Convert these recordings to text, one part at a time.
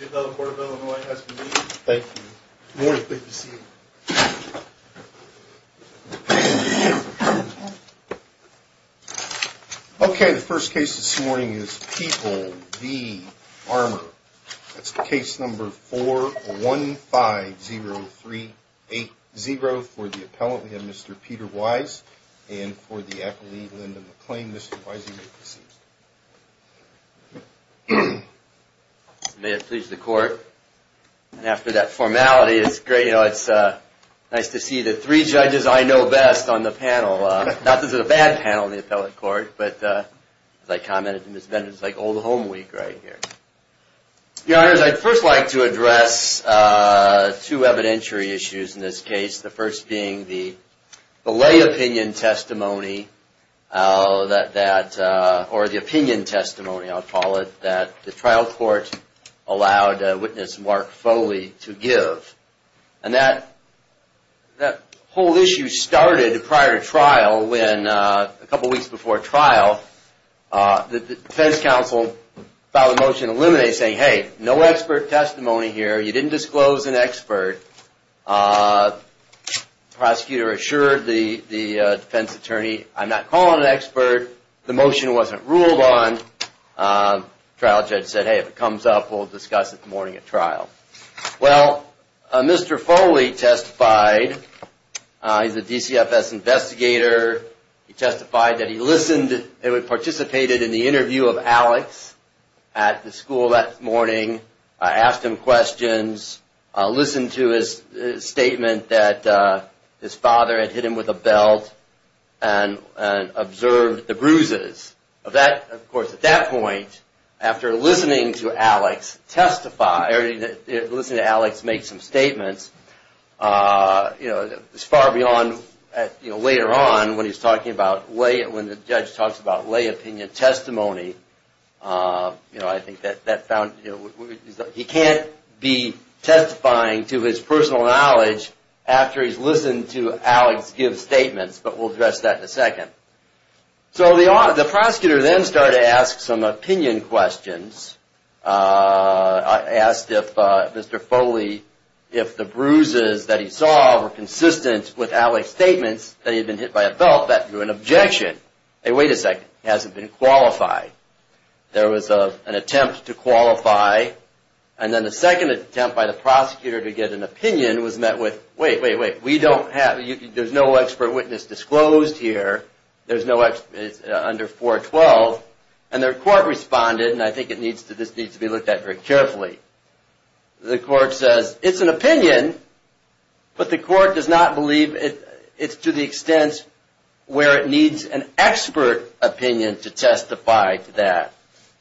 Okay, the first case this morning is People v. Armour. That's case number 4150380 for the appellant, we have Mr. Peter Wise, and for the accolade, Lyndon McClain. Mr. Wise, you may proceed. Peter Wise May it please the court. After that formality, it's great, you know, it's nice to see the three judges I know best on the panel. Not that this is a bad panel in the appellate court, but as I commented to Ms. Benders, it's like old home week right here. Your Honor, I'd first like to address two evidentiary issues in this case, the first being the belay opinion testimony, or the opinion testimony I'll call it, that the trial court allowed witness Mark Foley to give. And that whole issue started prior to trial when a couple weeks before trial, the defense counsel filed a motion to eliminate saying, hey, no expert testimony here, you didn't disclose an expert. Prosecutor assured the defense attorney, I'm not calling an expert, the motion wasn't ruled on. Trial judge said, hey, if it comes up, we'll discuss it in the morning at trial. Well, Mr. Foley testified, he's a DCFS investigator, he testified that he listened and participated in the interview of Alex at the school that morning, asked him questions, listened to his statement that his father had hit him with a belt and observed the bruises. Of course, at that point, after listening to Alex testify, or listening to Alex make some statements, it's far beyond later on when he's talking about, when the judge talks about belay opinion testimony, he can't be testifying to his personal knowledge after he's listened to Alex give statements, but we'll address that in a second. The prosecutor then started to ask some opinion questions, asked if Mr. Foley, if the bruises that he saw were consistent with Alex's statements that he had been hit by a belt, that drew an objection. Hey, wait a second, he hasn't been qualified. There was an attempt to qualify, and then a second attempt by the prosecutor to get an opinion was met with, wait, wait, wait, we don't have, there's no expert witness disclosed here, there's no, it's under 412, and their court responded, and I think this needs to be looked at very carefully. The court says, it's an opinion, but the court does not believe it's to the extent where it needs an expert opinion to testify to that.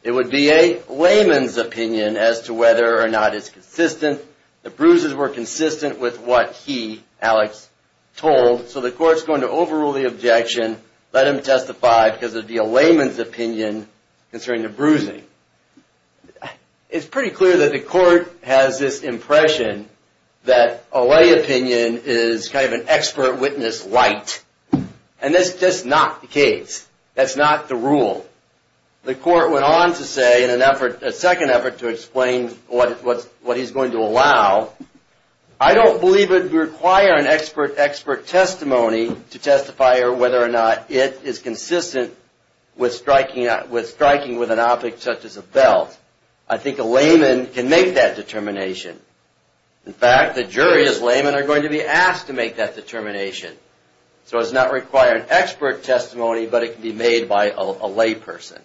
It would be a layman's opinion as to whether or not it's consistent, the bruises were consistent with what he, Alex, told, so the court's going to overrule the objection, let him testify because it would be a layman's opinion concerning the bruising. It's pretty clear that the court has this impression that a lay opinion is kind of an expert witness light, and that's just not the case, that's not the rule. The court went on to say, in a second effort to explain what he's going to allow, I don't believe it would require an expert testimony to testify whether or not it is consistent with striking with an object such as a belt. I think a layman can make that determination. In fact, the jury as laymen are going to be asked to make that determination, so it does not require an expert testimony, but it can be made by a layperson.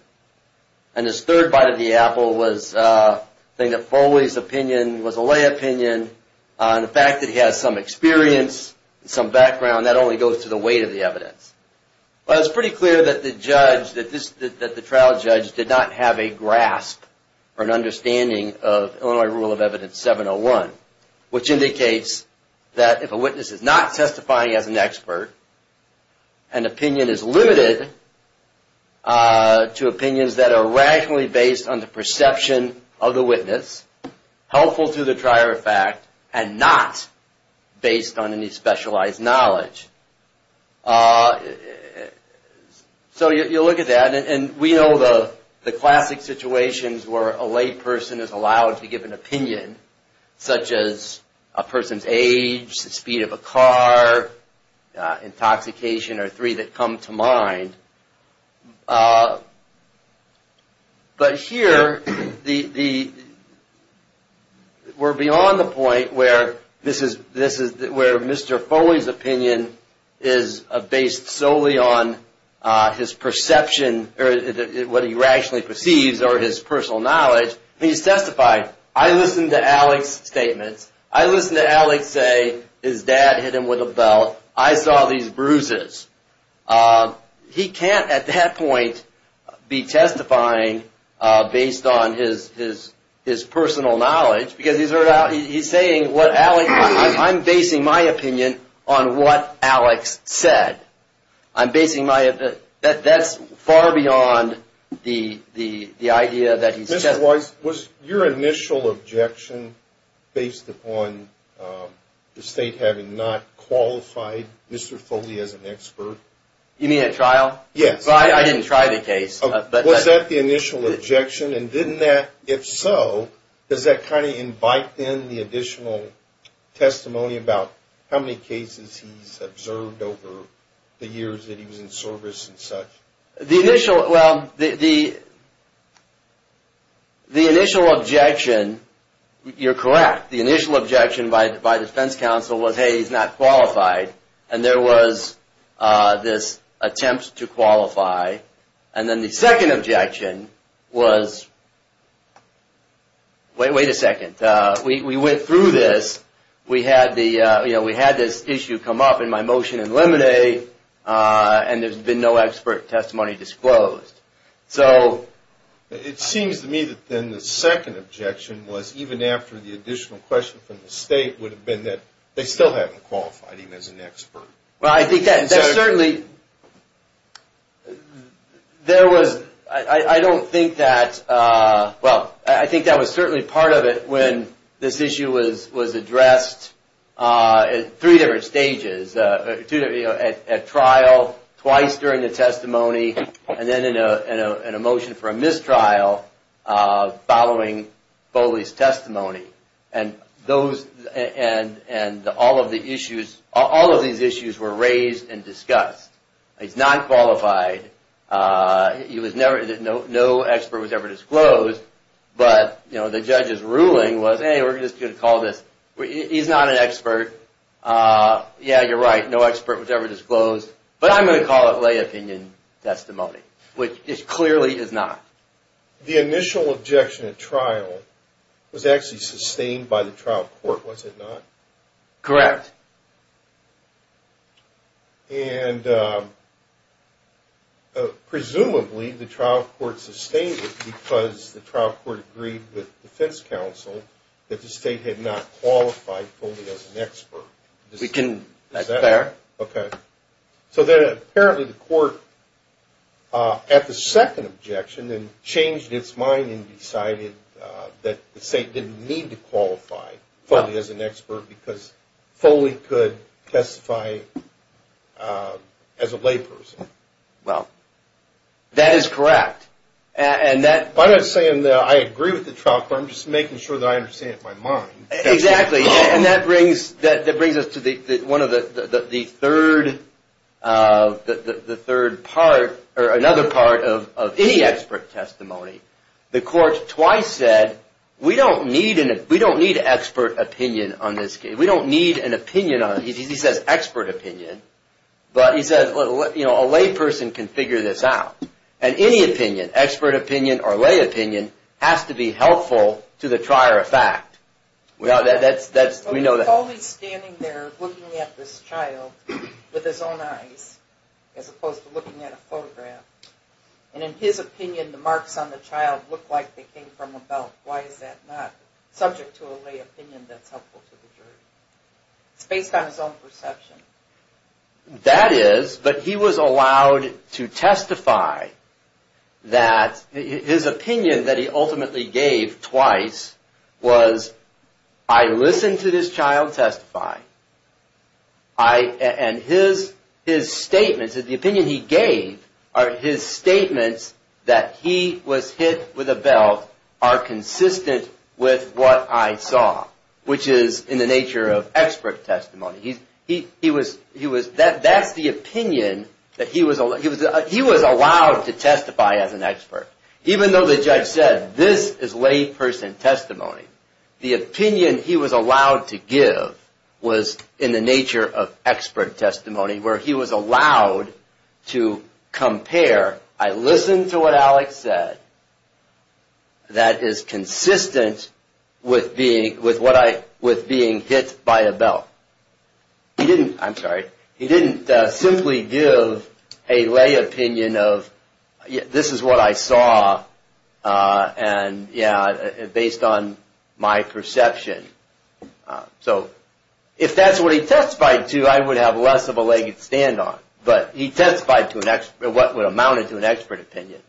And his third bite of the apple was saying that Foley's opinion was a lay opinion, and the fact that he has some experience, some background, that only goes to the weight of the evidence. Well, it's pretty clear that the trial judge did not have a grasp or an understanding of Illinois Rule of Evidence 701, which indicates that if a witness is not testifying as an expert, an opinion is limited to opinions that are rationally based on the perception of the witness, helpful to the trier of fact, and not based on any specialized knowledge. So you look at that, and we know the classic situations where a layperson is allowed to give an opinion, such as a person's age, the speed of a car, intoxication are three that come to mind. But here, we're beyond the point where Mr. Foley's opinion is based solely on his perception, or what he rationally perceives, or his personal knowledge. He's testifying. I listen to Alex's statements. I listen to Alex say his dad hit him with a belt. I saw these bruises. He can't, at that point, be testifying based on his personal knowledge, because he's saying, I'm basing my opinion on what Alex said. I'm basing my opinion. That's far beyond the idea that he's testifying. So was your initial objection based upon the state having not qualified Mr. Foley as an expert? You mean at trial? Yes. I didn't try the case. Was that the initial objection? And didn't that, if so, does that kind of invite in the additional testimony about how many cases he's observed over the years that he was in service and such? Well, the initial objection, you're correct. The initial objection by defense counsel was, hey, he's not qualified. And there was this attempt to qualify. And then the second objection was, wait a second. We went through this. We had this issue come up in my motion in Lemonade, and there's been no expert testimony disclosed. It seems to me that then the second objection was, even after the additional question from the state, would have been that they still haven't qualified him as an expert. Well, I think that certainly, there was, I don't think that, well, I think that was certainly part of it when this issue was addressed in three different stages. At trial, twice during the testimony, and then in a motion for a mistrial following Foley's testimony. And all of these issues were raised and discussed. He's not qualified. He was never, no expert was ever disclosed. But, you know, the judge's ruling was, hey, we're just going to call this, he's not an expert. Yeah, you're right, no expert was ever disclosed. But I'm going to call it lay opinion testimony, which clearly is not. The initial objection at trial was actually sustained by the trial court, was it not? Correct. And, presumably, the trial court sustained it because the trial court agreed with defense counsel that the state had not qualified Foley as an expert. Is that fair? Okay. So then, apparently, the court, at the second objection, then changed its mind and decided that the state didn't need to qualify Foley as an expert because Foley could testify as a lay person. Well, that is correct. And that... I'm not saying that I agree with the trial court. I'm just making sure that I understand it in my mind. Exactly. And that brings us to one of the third, the third part, or another part of any expert testimony. The court twice said, we don't need an expert opinion on this case. We don't need an opinion on it. He says expert opinion. But he says, you know, a lay person can figure this out. And any opinion, expert opinion or lay opinion, has to be helpful to the trier of fact. Foley's standing there looking at this child with his own eyes, as opposed to looking at a photograph. And in his opinion, the marks on the child look like they came from a belt. Why is that not subject to a lay opinion that's helpful to the jury? It's based on his own perception. That is, but he was allowed to testify that his opinion that he ultimately gave twice was, I listened to this child testify. And his statements, the opinion he gave, his statements that he was hit with a belt are consistent with what I saw, which is in the nature of expert testimony. He was, that's the opinion that he was, he was allowed to testify as an expert. Even though the judge said, this is lay person testimony. The opinion he was allowed to give was in the nature of expert testimony, where he was allowed to compare, I listened to what Alex said. That is consistent with being, with what I, with being hit by a belt. He didn't, I'm sorry, he didn't simply give a lay opinion of this is what I saw. And yeah, based on my perception. So if that's what he testified to, I would have less of a leg to stand on. But he testified to an expert, what amounted to an expert opinion.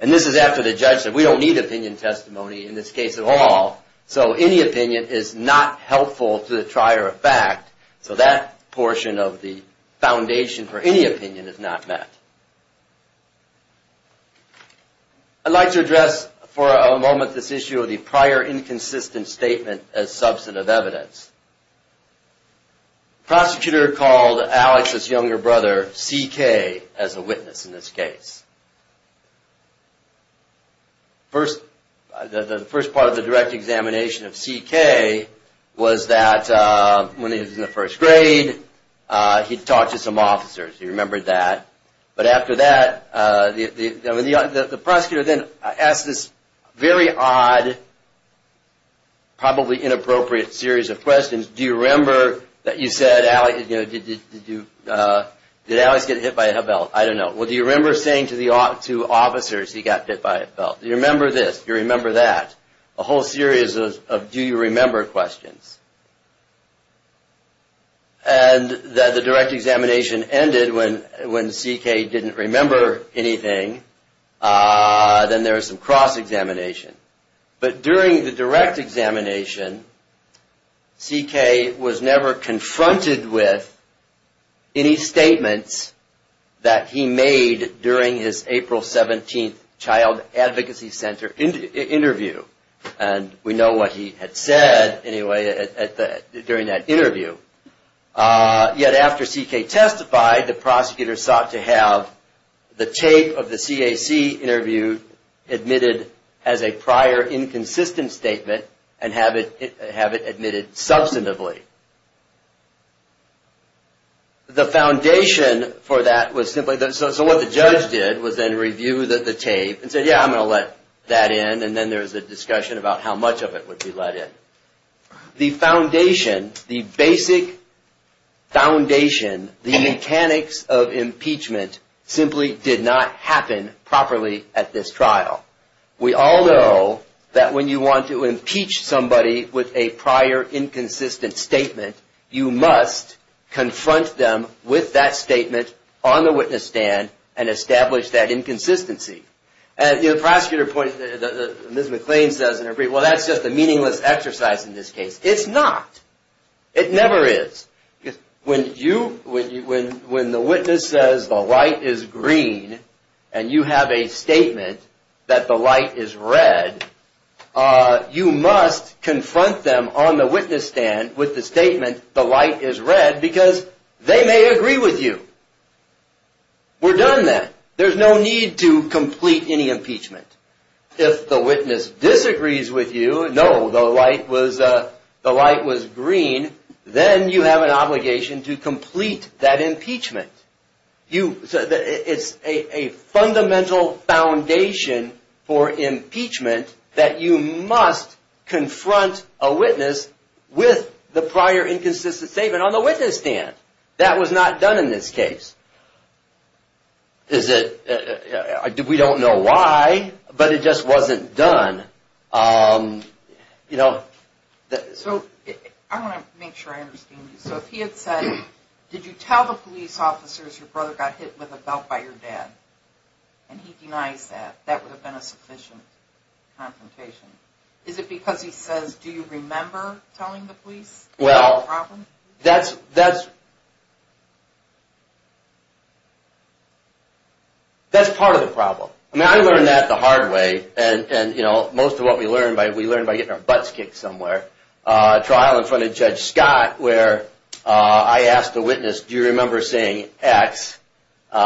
And this is after the judge said, we don't need opinion testimony in this case at all. So any opinion is not helpful to the trier of fact. So that portion of the foundation for any opinion is not met. I'd like to address for a moment this issue of the prior inconsistent statement as substantive evidence. Prosecutor called Alex's younger brother C.K. as a witness in this case. First, the first part of the direct examination of C.K. was that when he was in the first grade, he'd talked to some officers, he remembered that. But after that, the prosecutor then asked this very odd, probably inappropriate series of questions. Do you remember that you said Alex, did Alex get hit by a belt? I don't know. Well, do you remember saying to officers he got hit by a belt? Do you remember this? Do you remember that? A whole series of do you remember questions. And the direct examination ended when C.K. didn't remember anything. Then there was some cross examination. But during the direct examination, C.K. was never confronted with any statements that he made during his April 17th Child Advocacy Center interview. And we know what he had said, anyway, during that interview. Yet after C.K. testified, the prosecutor sought to have the tape of the CAC interview admitted as a prior inconsistent statement and have it admitted substantively. The foundation for that was simply, so what the judge did was then review the tape and said, yeah, I'm going to let that in, and then there was a discussion about how much of it would be let in. The foundation, the basic foundation, the mechanics of impeachment simply did not happen properly at this trial. We all know that when you want to impeach somebody with a prior inconsistent statement, you must confront them with that statement on the witness stand and establish that inconsistency. And the prosecutor pointed, Ms. McLean says in her brief, well, that's just a meaningless exercise in this case. It's not. It never is. When the witness says the light is green and you have a statement that the light is red, you must confront them on the witness stand with the statement, the light is red, because they may agree with you. We're done then. There's no need to complete any impeachment. If the witness disagrees with you, no, the light was green, then you have an obligation to complete that impeachment. It's a fundamental foundation for impeachment that you must confront a witness with the prior inconsistent statement on the witness stand. That was not done in this case. We don't know why, but it just wasn't done. I want to make sure I understand you. So if he had said, did you tell the police officers your brother got hit with a belt by your dad, and he denies that, that would have been a sufficient confrontation. Is it because he says, do you remember telling the police? Well, that's part of the problem. I mean, I learned that the hard way, and most of what we learn, we learn by getting our butts kicked somewhere. A trial in front of Judge Scott where I asked the witness, do you remember saying X? Do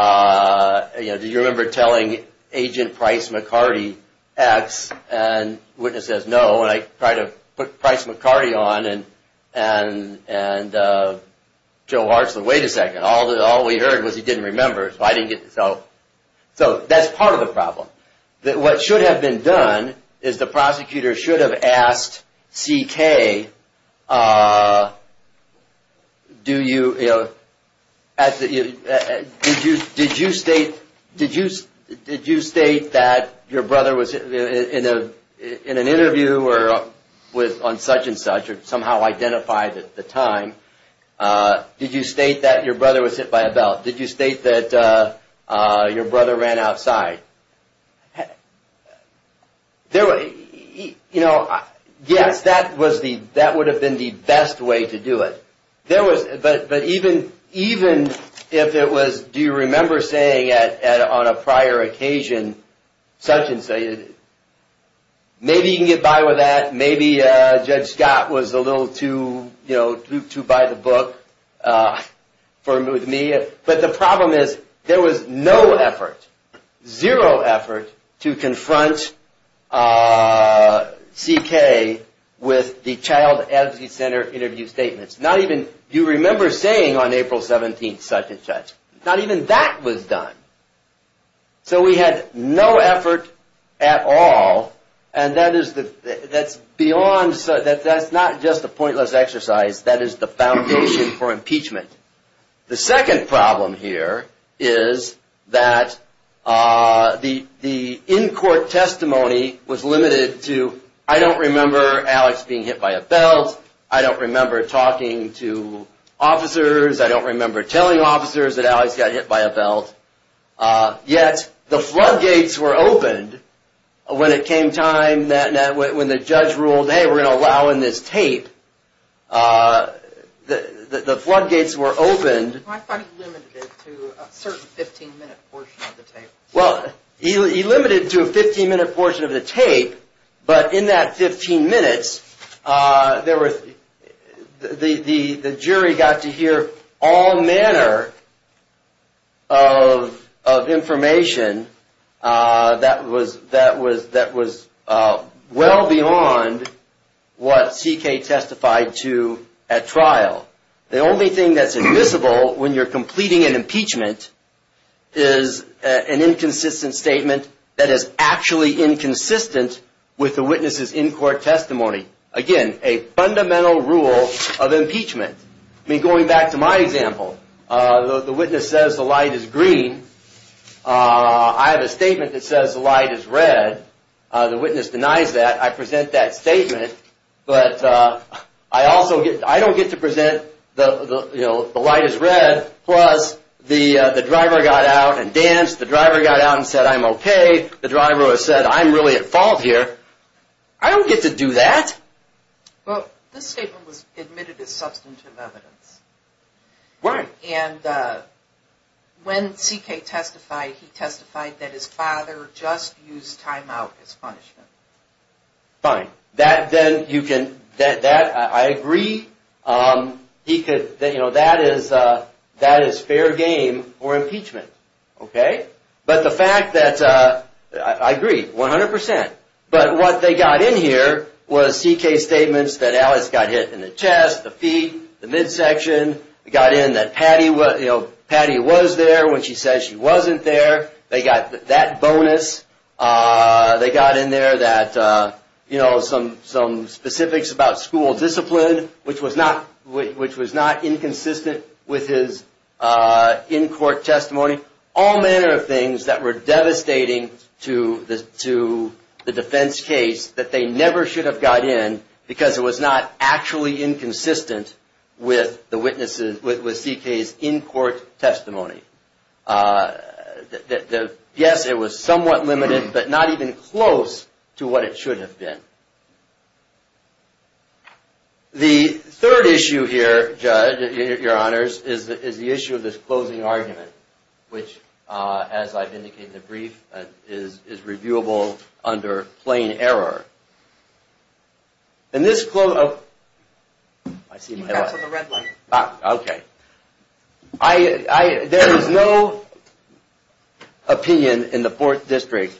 you remember telling Agent Price McCarty X? And the witness says no, and I try to put Price McCarty on, and Joe Hartsland, wait a second. All we heard was he didn't remember. So that's part of the problem. What should have been done is the prosecutor should have asked CK, do you, did you state that your brother was, in an interview or on such and such, or somehow identified at the time, did you state that your brother was hit by a belt? Did you state that your brother ran outside? Yes, that would have been the best way to do it. But even if it was, do you remember saying on a prior occasion, such and such, maybe you can get by with that. Maybe Judge Scott was a little too by the book with me. But the problem is there was no effort, zero effort to confront CK with the child advocacy center interview statements. Not even, you remember saying on April 17, such and such, not even that was done. So we had no effort at all. And that's beyond, that's not just a pointless exercise, that is the foundation for impeachment. The second problem here is that the in-court testimony was limited to, I don't remember Alex being hit by a belt, I don't remember talking to officers, I don't remember telling officers that Alex got hit by a belt. Yet the floodgates were opened when it came time, when the judge ruled, hey, we're going to allow in this tape, the floodgates were opened. I thought he limited it to a certain 15 minute portion of the tape. Well, he limited it to a 15 minute portion of the tape, but in that 15 minutes, the jury got to hear all manner of information that was well beyond what CK testified to at trial. The only thing that's admissible when you're completing an impeachment is an inconsistent statement that is actually inconsistent with the witness's in-court testimony. Again, a fundamental rule of impeachment. Going back to my example, the witness says the light is green, I have a statement that says the light is red, the witness denies that, I present that statement, but I don't get to present the light is red, plus the driver got out and danced, the driver got out and said I'm okay, the driver said I'm really at fault here, I don't get to do that. This statement was admitted as substantive evidence. When CK testified, he testified that his father just used timeout as punishment. Fine. I agree, that is fair game for impeachment. But the fact that, I agree 100%, but what they got in here was CK's statements that Alice got hit in the chest, the feet, the midsection, they got in that Patty was there when she said she wasn't there, they got that bonus, they got in there that some specifics about school discipline, which was not inconsistent with his in-court testimony. All manner of things that were devastating to the defense case that they never should have got in because it was not actually inconsistent with CK's in-court testimony. Yes, it was somewhat limited, but not even close to what it should have been. The third issue here, Judge, your honors, is the issue of this closing argument, which, as I've indicated in the brief, is reviewable under plain error. And this, I see my light. There is no opinion in the 4th District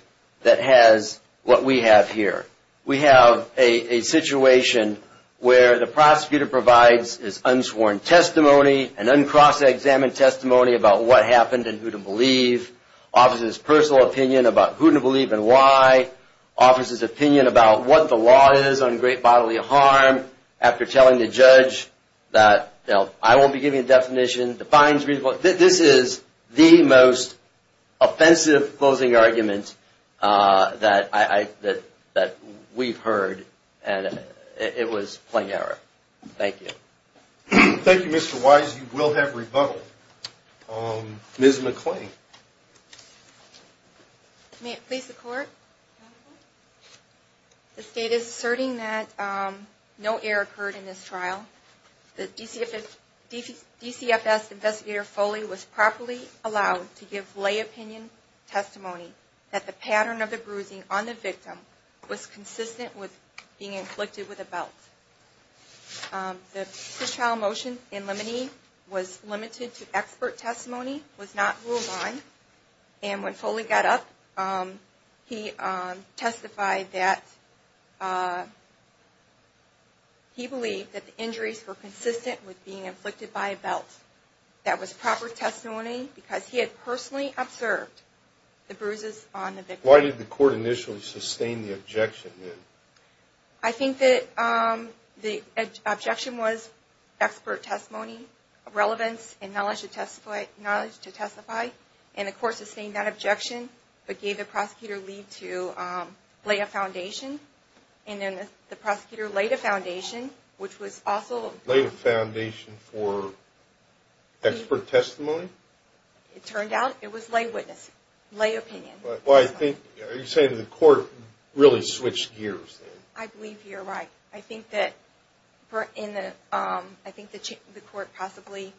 that has what we have here. We have a situation where the prosecutor provides his unsworn testimony, an uncross-examined testimony about what happened and who to believe, offers his personal opinion about who to believe and why, offers his opinion about what the law is on great bodily harm, after telling the judge that, you know, I won't be giving a definition. This is the most offensive closing argument that we've heard. And it was plain error. Thank you. Thank you, Mr. Wise. You will have rebuttal. Ms. McClain. May it please the Court? This state is asserting that no error occurred in this trial. The DCFS investigator, Foley, was properly allowed to give lay opinion testimony that the pattern of the bruising on the victim was consistent with being inflicted with a belt. The trial motion in limine was limited to expert testimony, was not ruled on. And when Foley got up, he testified that he believed that the injury was caused by a belt. That was proper testimony, because he had personally observed the bruises on the victim. Why did the Court initially sustain the objection then? I think that the objection was expert testimony, relevance and knowledge to testify. And the Court sustained that objection, but gave the prosecutor leave to lay a foundation. And then the prosecutor laid a foundation, which was also... Laid a foundation for expert testimony? It turned out it was lay witness, lay opinion. Are you saying that the Court really switched gears then? I believe you're right. I think that the Court possibly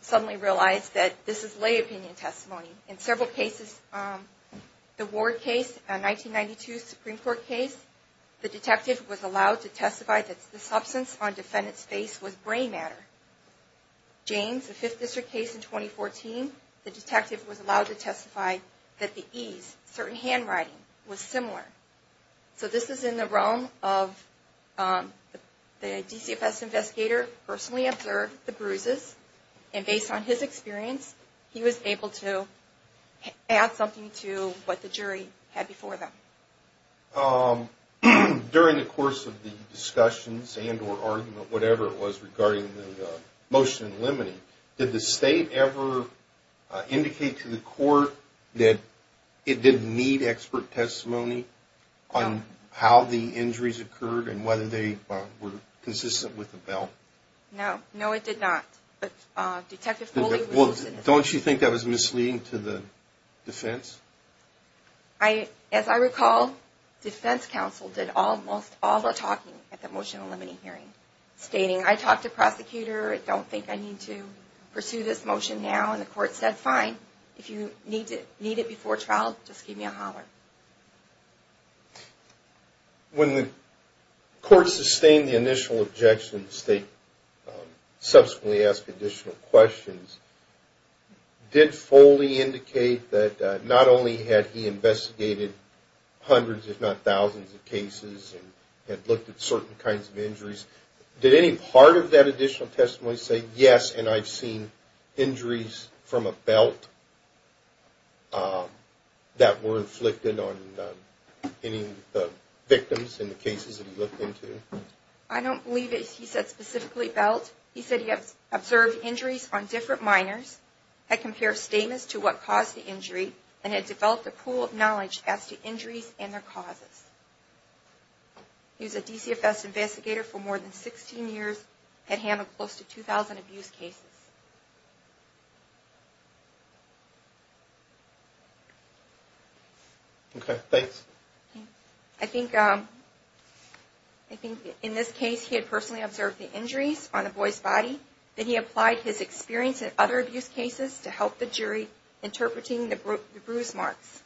suddenly realized that this is lay opinion testimony. In several cases, the Ward case, a 1992 Supreme Court case, the detective was allowed to testify that the substance on the defendant's face was brain matter. James, a Fifth District case in 2014, the detective was allowed to testify that the ease, certain handwriting, was similar. So this is in the realm of the DCFS investigator personally observed the bruises. And based on his experience, he was able to add something to what the jury had before them. During the course of the discussions and or argument, whatever it was regarding the motion in limine, did the State ever indicate to the Court that it didn't need expert testimony? On how the injuries occurred and whether they were consistent with the bill? No, no it did not. Don't you think that was misleading to the defense? As I recall, defense counsel did almost all the talking at the motion in limine hearing, stating, I talked to prosecutor, I don't think I need to pursue this motion now. And the Court said, fine, if you need it before trial, just give me a holler. When the Court sustained the initial objection, the State subsequently asked additional questions. Did Foley indicate that not only had he investigated hundreds, if not thousands, of cases and looked at certain kinds of injuries, did any part of that additional testimony say, yes, and I've seen injuries? From a belt that were inflicted on any of the victims in the cases that he looked into? I don't believe he said specifically belt. He said he observed injuries on different minors, had compared statements to what caused the injury, and had developed a pool of knowledge as to injuries and their causes. He was a DCFS investigator for more than 16 years, had handled close to 2,000 abuse cases. Okay, thanks. I think in this case, he had personally observed the injuries on a boy's body, then he applied his experience in other abuse cases to help the jury interpreting the bruise marks.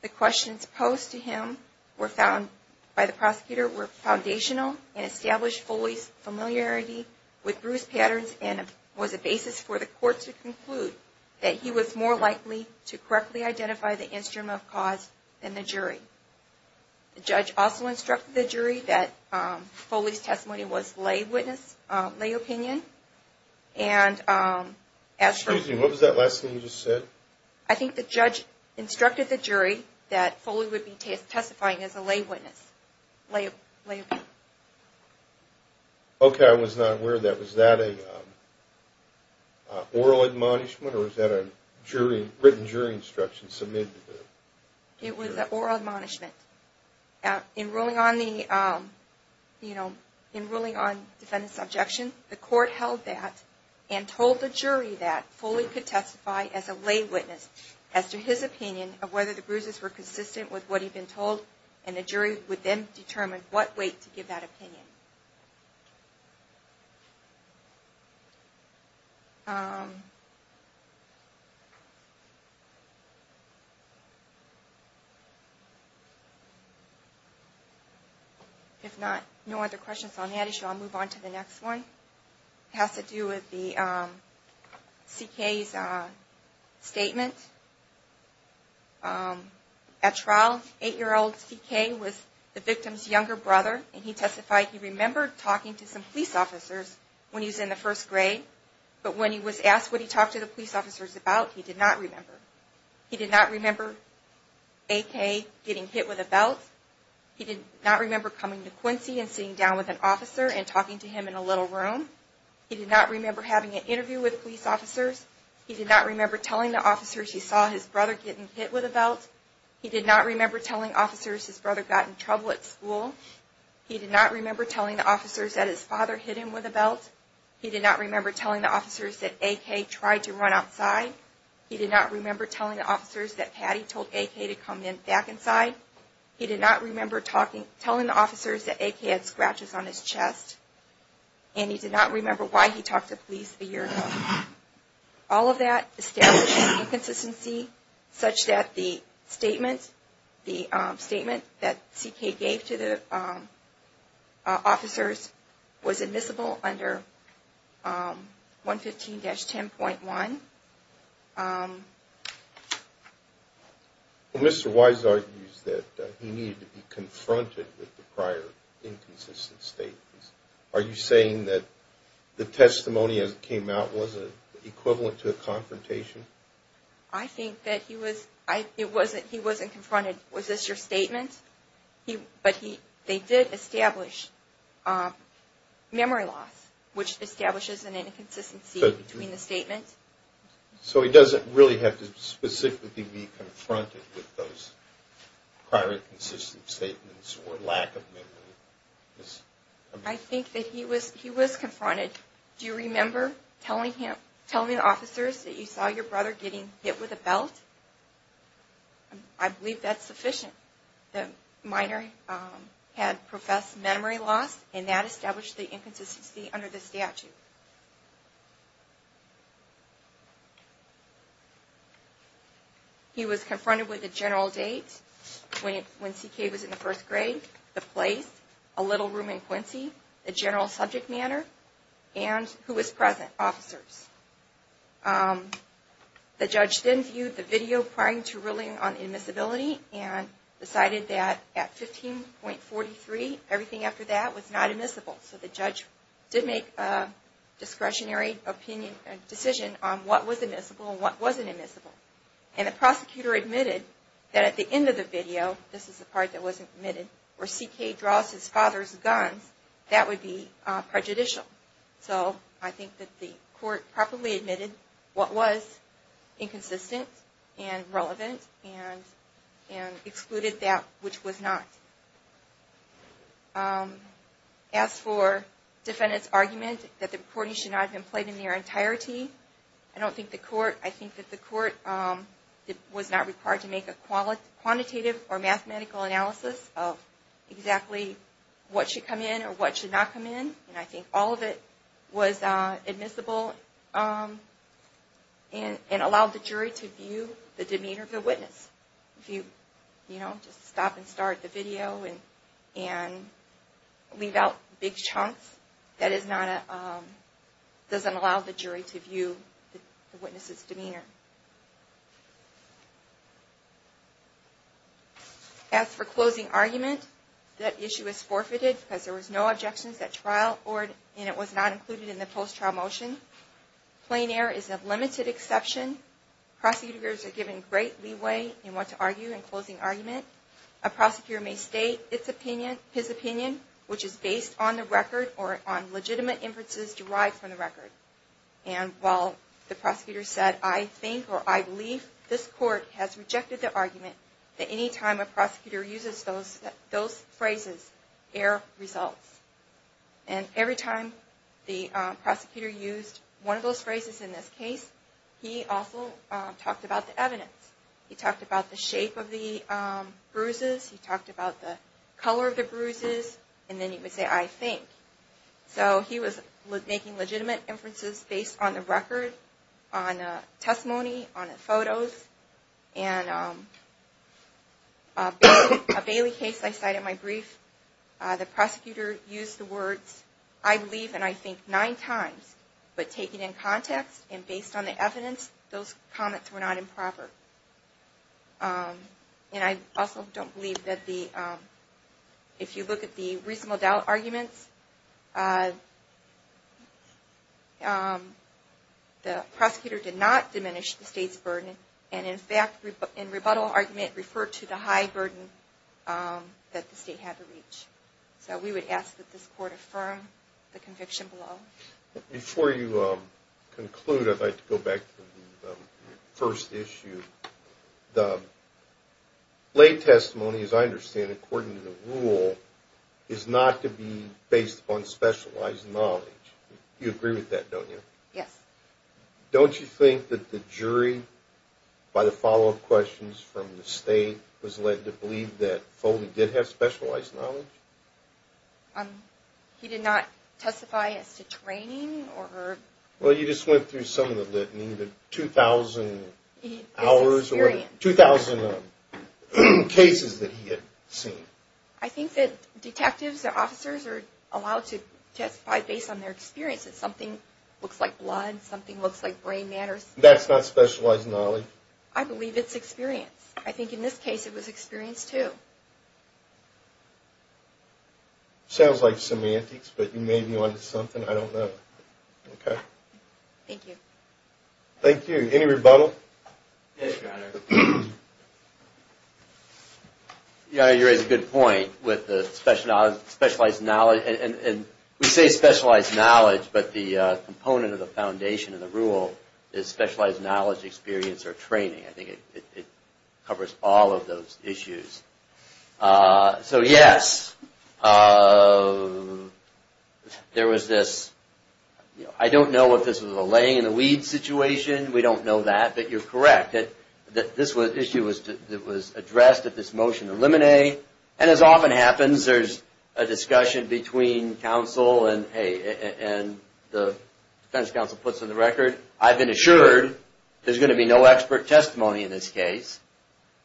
The questions posed to him were found by the prosecutor were foundational and established Foley's familiarity with bruise patterns and was a basis for the Court to conclude that the injury was caused by the bruise marks. He was more likely to correctly identify the instrument of cause than the jury. The judge also instructed the jury that Foley's testimony was lay witness, lay opinion. Excuse me, what was that last thing you just said? I think the judge instructed the jury that Foley would be testifying as a lay witness, lay opinion. Okay, I was not aware of that. Was that an oral admonishment, or was that a written jury instruction submitted to the jury? It was an oral admonishment. In ruling on defendant's objection, the Court held that and told the jury that Foley could testify as a lay witness as to his opinion of whether the bruises were consistent with what he'd been told, and the jury would then determine what weight to give that weight. If not, no other questions on that issue, I'll move on to the next one. It has to do with C.K.'s statement at trial. Eight-year-old C.K. was the victim's younger brother, and he testified as a lay witness. He testified he remembered talking to some police officers when he was in the first grade, but when he was asked what he talked to the police officers about, he did not remember. He did not remember A.K. getting hit with a belt. He did not remember coming to Quincy and sitting down with an officer and talking to him in a little room. He did not remember having an interview with police officers. He did not remember telling the officers he saw his brother getting hit with a belt. He did not remember telling officers his brother got in trouble at school. He did not remember telling the officers that his father hit him with a belt. He did not remember telling the officers that A.K. tried to run outside. He did not remember telling the officers that Patty told A.K. to come back inside. He did not remember telling the officers that A.K. had scratches on his chest. And he did not remember why he talked to police a year ago. All of that established inconsistency such that the statement that C.K. gave to the officers was admissible under 115-10.1. Mr. Wise argues that he needed to be confronted with the prior inconsistent statements. Are you saying that the testimony that came out was equivalent to a confrontation? I think that he wasn't confronted. Was this your statement? But they did establish memory loss, which establishes an inconsistency between the statements. So he doesn't really have to specifically be confronted with those prior inconsistent statements or lack of memory. I think that he was confronted. Do you remember telling the officers that you saw your brother getting hit with a belt? I believe that's sufficient. The minor had professed memory loss and that established the inconsistency under the statute. He was confronted with the general date when C.K. was in the first grade, the place, a little room in Quincy, the general subject matter, and who was present, officers. The judge then viewed the video prior to ruling on immiscibility and decided that at 15.43, everything after that was not admissible. So the judge did make a discretionary decision on what was admissible and what wasn't admissible. And the prosecutor admitted that at the end of the video, this is the part that wasn't admitted, where C.K. draws his father's gun, that would be prejudicial. So I think that the court properly admitted what was inconsistent and relevant and excluded that which was not. As for defendant's argument that the recording should not have been played in their entirety, I don't think the court, I think that the court was not required to make a quantitative or mathematical analysis of exactly what should come in or what should not come in. And I think all of it was admissible and allowed the jury to view the demeanor of the witness. If you, you know, just stop and start the video and leave out big chunks, that is not a, doesn't allow the jury to view the witness's demeanor. As for closing argument, that issue is forfeited because there was no objections at trial and it was not included in the post-trial motion. Plain air is of limited exception. Prosecutors are given great leeway in what to argue in closing argument. A prosecutor may state his opinion, which is based on the record or on legitimate inferences derived from the record. And while the prosecutor said, I think or I believe, this court has rejected the argument that any time a prosecutor uses those phrases, air results. And every time the prosecutor used one of those phrases in this case, he also talked about the evidence. He talked about the shape of the bruises, he talked about the color of the bruises and then he would say, I think. So he was making legitimate inferences based on the record, on testimony, on photos. And a Bailey case I cited in my brief, the prosecutor used the words, I believe and I think nine times, but taken in context and based on the evidence, those comments were not improper. And I also don't believe that the, if you look at the reasonable doubt arguments, the prosecutor did not diminish the state's burden. And in fact, in rebuttal argument, referred to the high burden that the state had to reach. So we would ask that this court affirm the conviction below. Before you conclude, I'd like to go back to the first issue. The lay testimony, as I understand it, according to the rule, is not to be based upon specialized knowledge. You agree with that, don't you? Yes. Don't you think that the jury, by the follow-up questions from the state, was led to believe that Foley did have specialized knowledge? He did not testify as to training or... Well, you just went through some of the litany, the 2,000 hours, 2,000 cases that he had seen. I think that detectives and officers are allowed to testify based on their experience. If something looks like blood, something looks like brain matter... That's not specialized knowledge? I believe it's experience. I think in this case it was experience, too. Sounds like semantics, but you may be onto something. I don't know. Thank you. Any rebuttal? Your Honor, you raise a good point. We say specialized knowledge, but the component of the foundation of the rule is specialized knowledge, experience, or training. I think it covers all of those issues. So, yes, there was this... I don't know if this was a laying-in-the-weeds situation. We don't know that, but you're correct. This issue was addressed at this motion to eliminate, and as often happens, there's a discussion between counsel and the defense counsel puts on the record, I've been assured there's going to be no expert testimony in this case.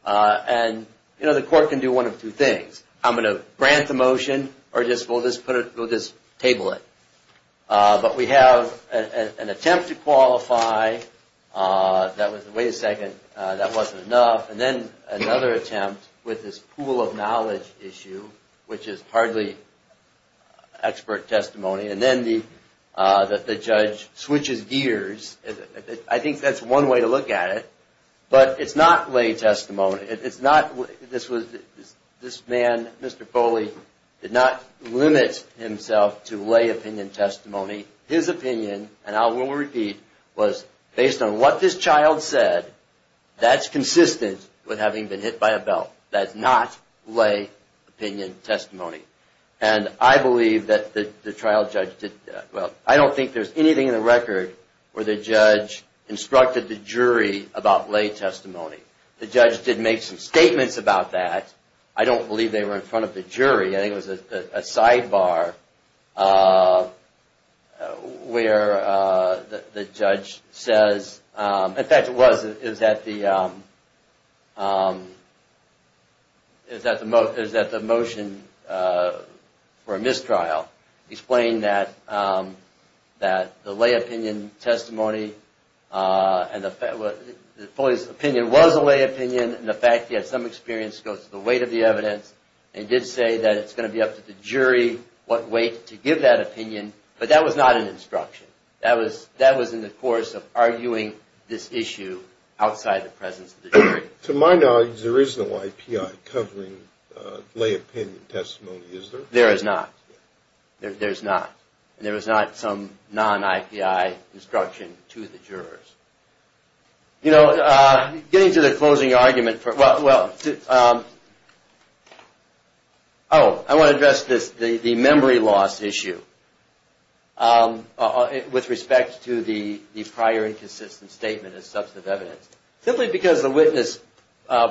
And the court can do one of two things. I'm going to grant the motion, or we'll just table it. But we have an attempt to qualify. Wait a second, that wasn't enough. And then another attempt with this pool-of-knowledge issue, which is hardly expert testimony. And then the judge switches gears. I think that's one way to look at it. But it's not lay testimony. This man, Mr. Foley, did not limit himself to lay opinion testimony. His opinion, and I will repeat, was based on what this child said. That's consistent with having been hit by a belt. That's not lay opinion testimony. And I believe that the trial judge did... Well, I don't think there's anything in the record where the judge instructed the jury about lay testimony. The judge did make some statements about that. I don't believe they were in front of the jury. I think it was a sidebar where the judge says... In fact, it was at the motion for a mistrial. Explained that the lay opinion testimony and Foley's opinion, was a lay opinion, and the fact he had some experience goes to the weight of the evidence. And did say that it's going to be up to the jury what weight to give that opinion. But that was not an instruction. That was in the course of arguing this issue outside the presence of the jury. To my knowledge, there is no IPI covering lay opinion testimony, is there? There is not. There's not. And there was not some non-IPI instruction to the jurors. You know, getting to the closing argument... Oh, I want to address the memory loss issue. With respect to the prior inconsistent statement as substantive evidence. Simply because the witness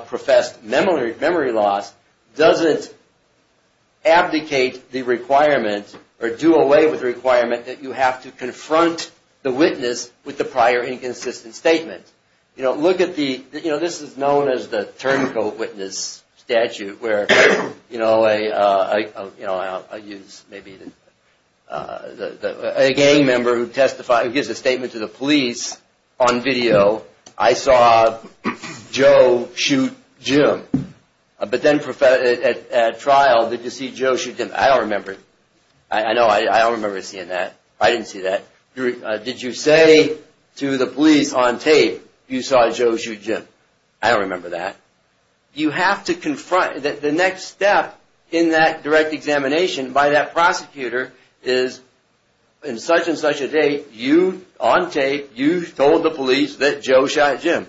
professed memory loss, doesn't abdicate the requirement or do away with the requirement that you have to confront the witness with the prior inconsistent statement. This is known as the turncoat witness statute. A gang member who gives a statement to the police on video, I saw Joe shoot Jim. But then at trial, did you see Joe shoot Jim? I don't remember. I don't remember seeing that. I didn't see that. Did you say to the police on tape, you saw Joe shoot Jim? I don't remember that. The next step in that direct examination by that prosecutor is on such and such a date, you, on tape, you told the police that Joe shot Jim.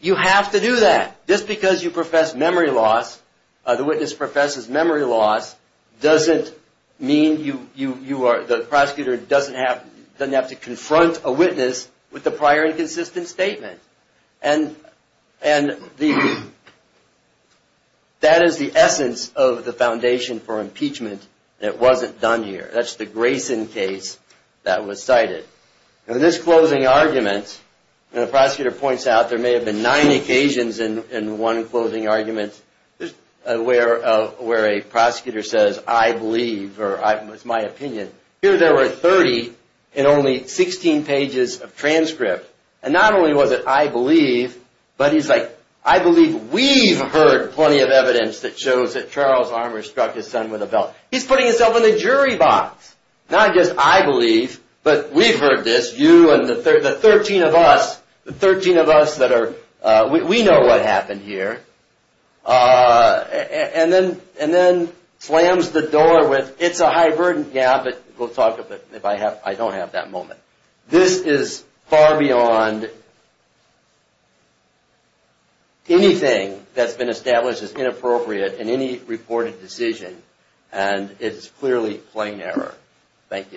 You have to do that. Just because you profess memory loss, the witness professes memory loss, doesn't mean the prosecutor doesn't have to confront a witness with the prior inconsistent statement. That is the essence of the foundation for impeachment. It wasn't done here. That's the Grayson case that was cited. In this closing argument, the prosecutor points out there may have been nine occasions in one closing argument where a prosecutor says, I believe, or it's my opinion. Here there were 30 in only 16 pages of transcript. And not only was it I believe, but he's like, I believe we've heard plenty of evidence that shows that Charles Armour struck his son with a belt. He's putting himself in the jury box. Not just I believe, but we've heard this, you and the 13 of us, the 13 of us that are, we know what happened here. And then slams the door with, it's a high burden. Yeah, but we'll talk about it if I don't have that moment. This is far beyond anything that's been established as inappropriate in any reported decision. And it's clearly plain error. Thank you.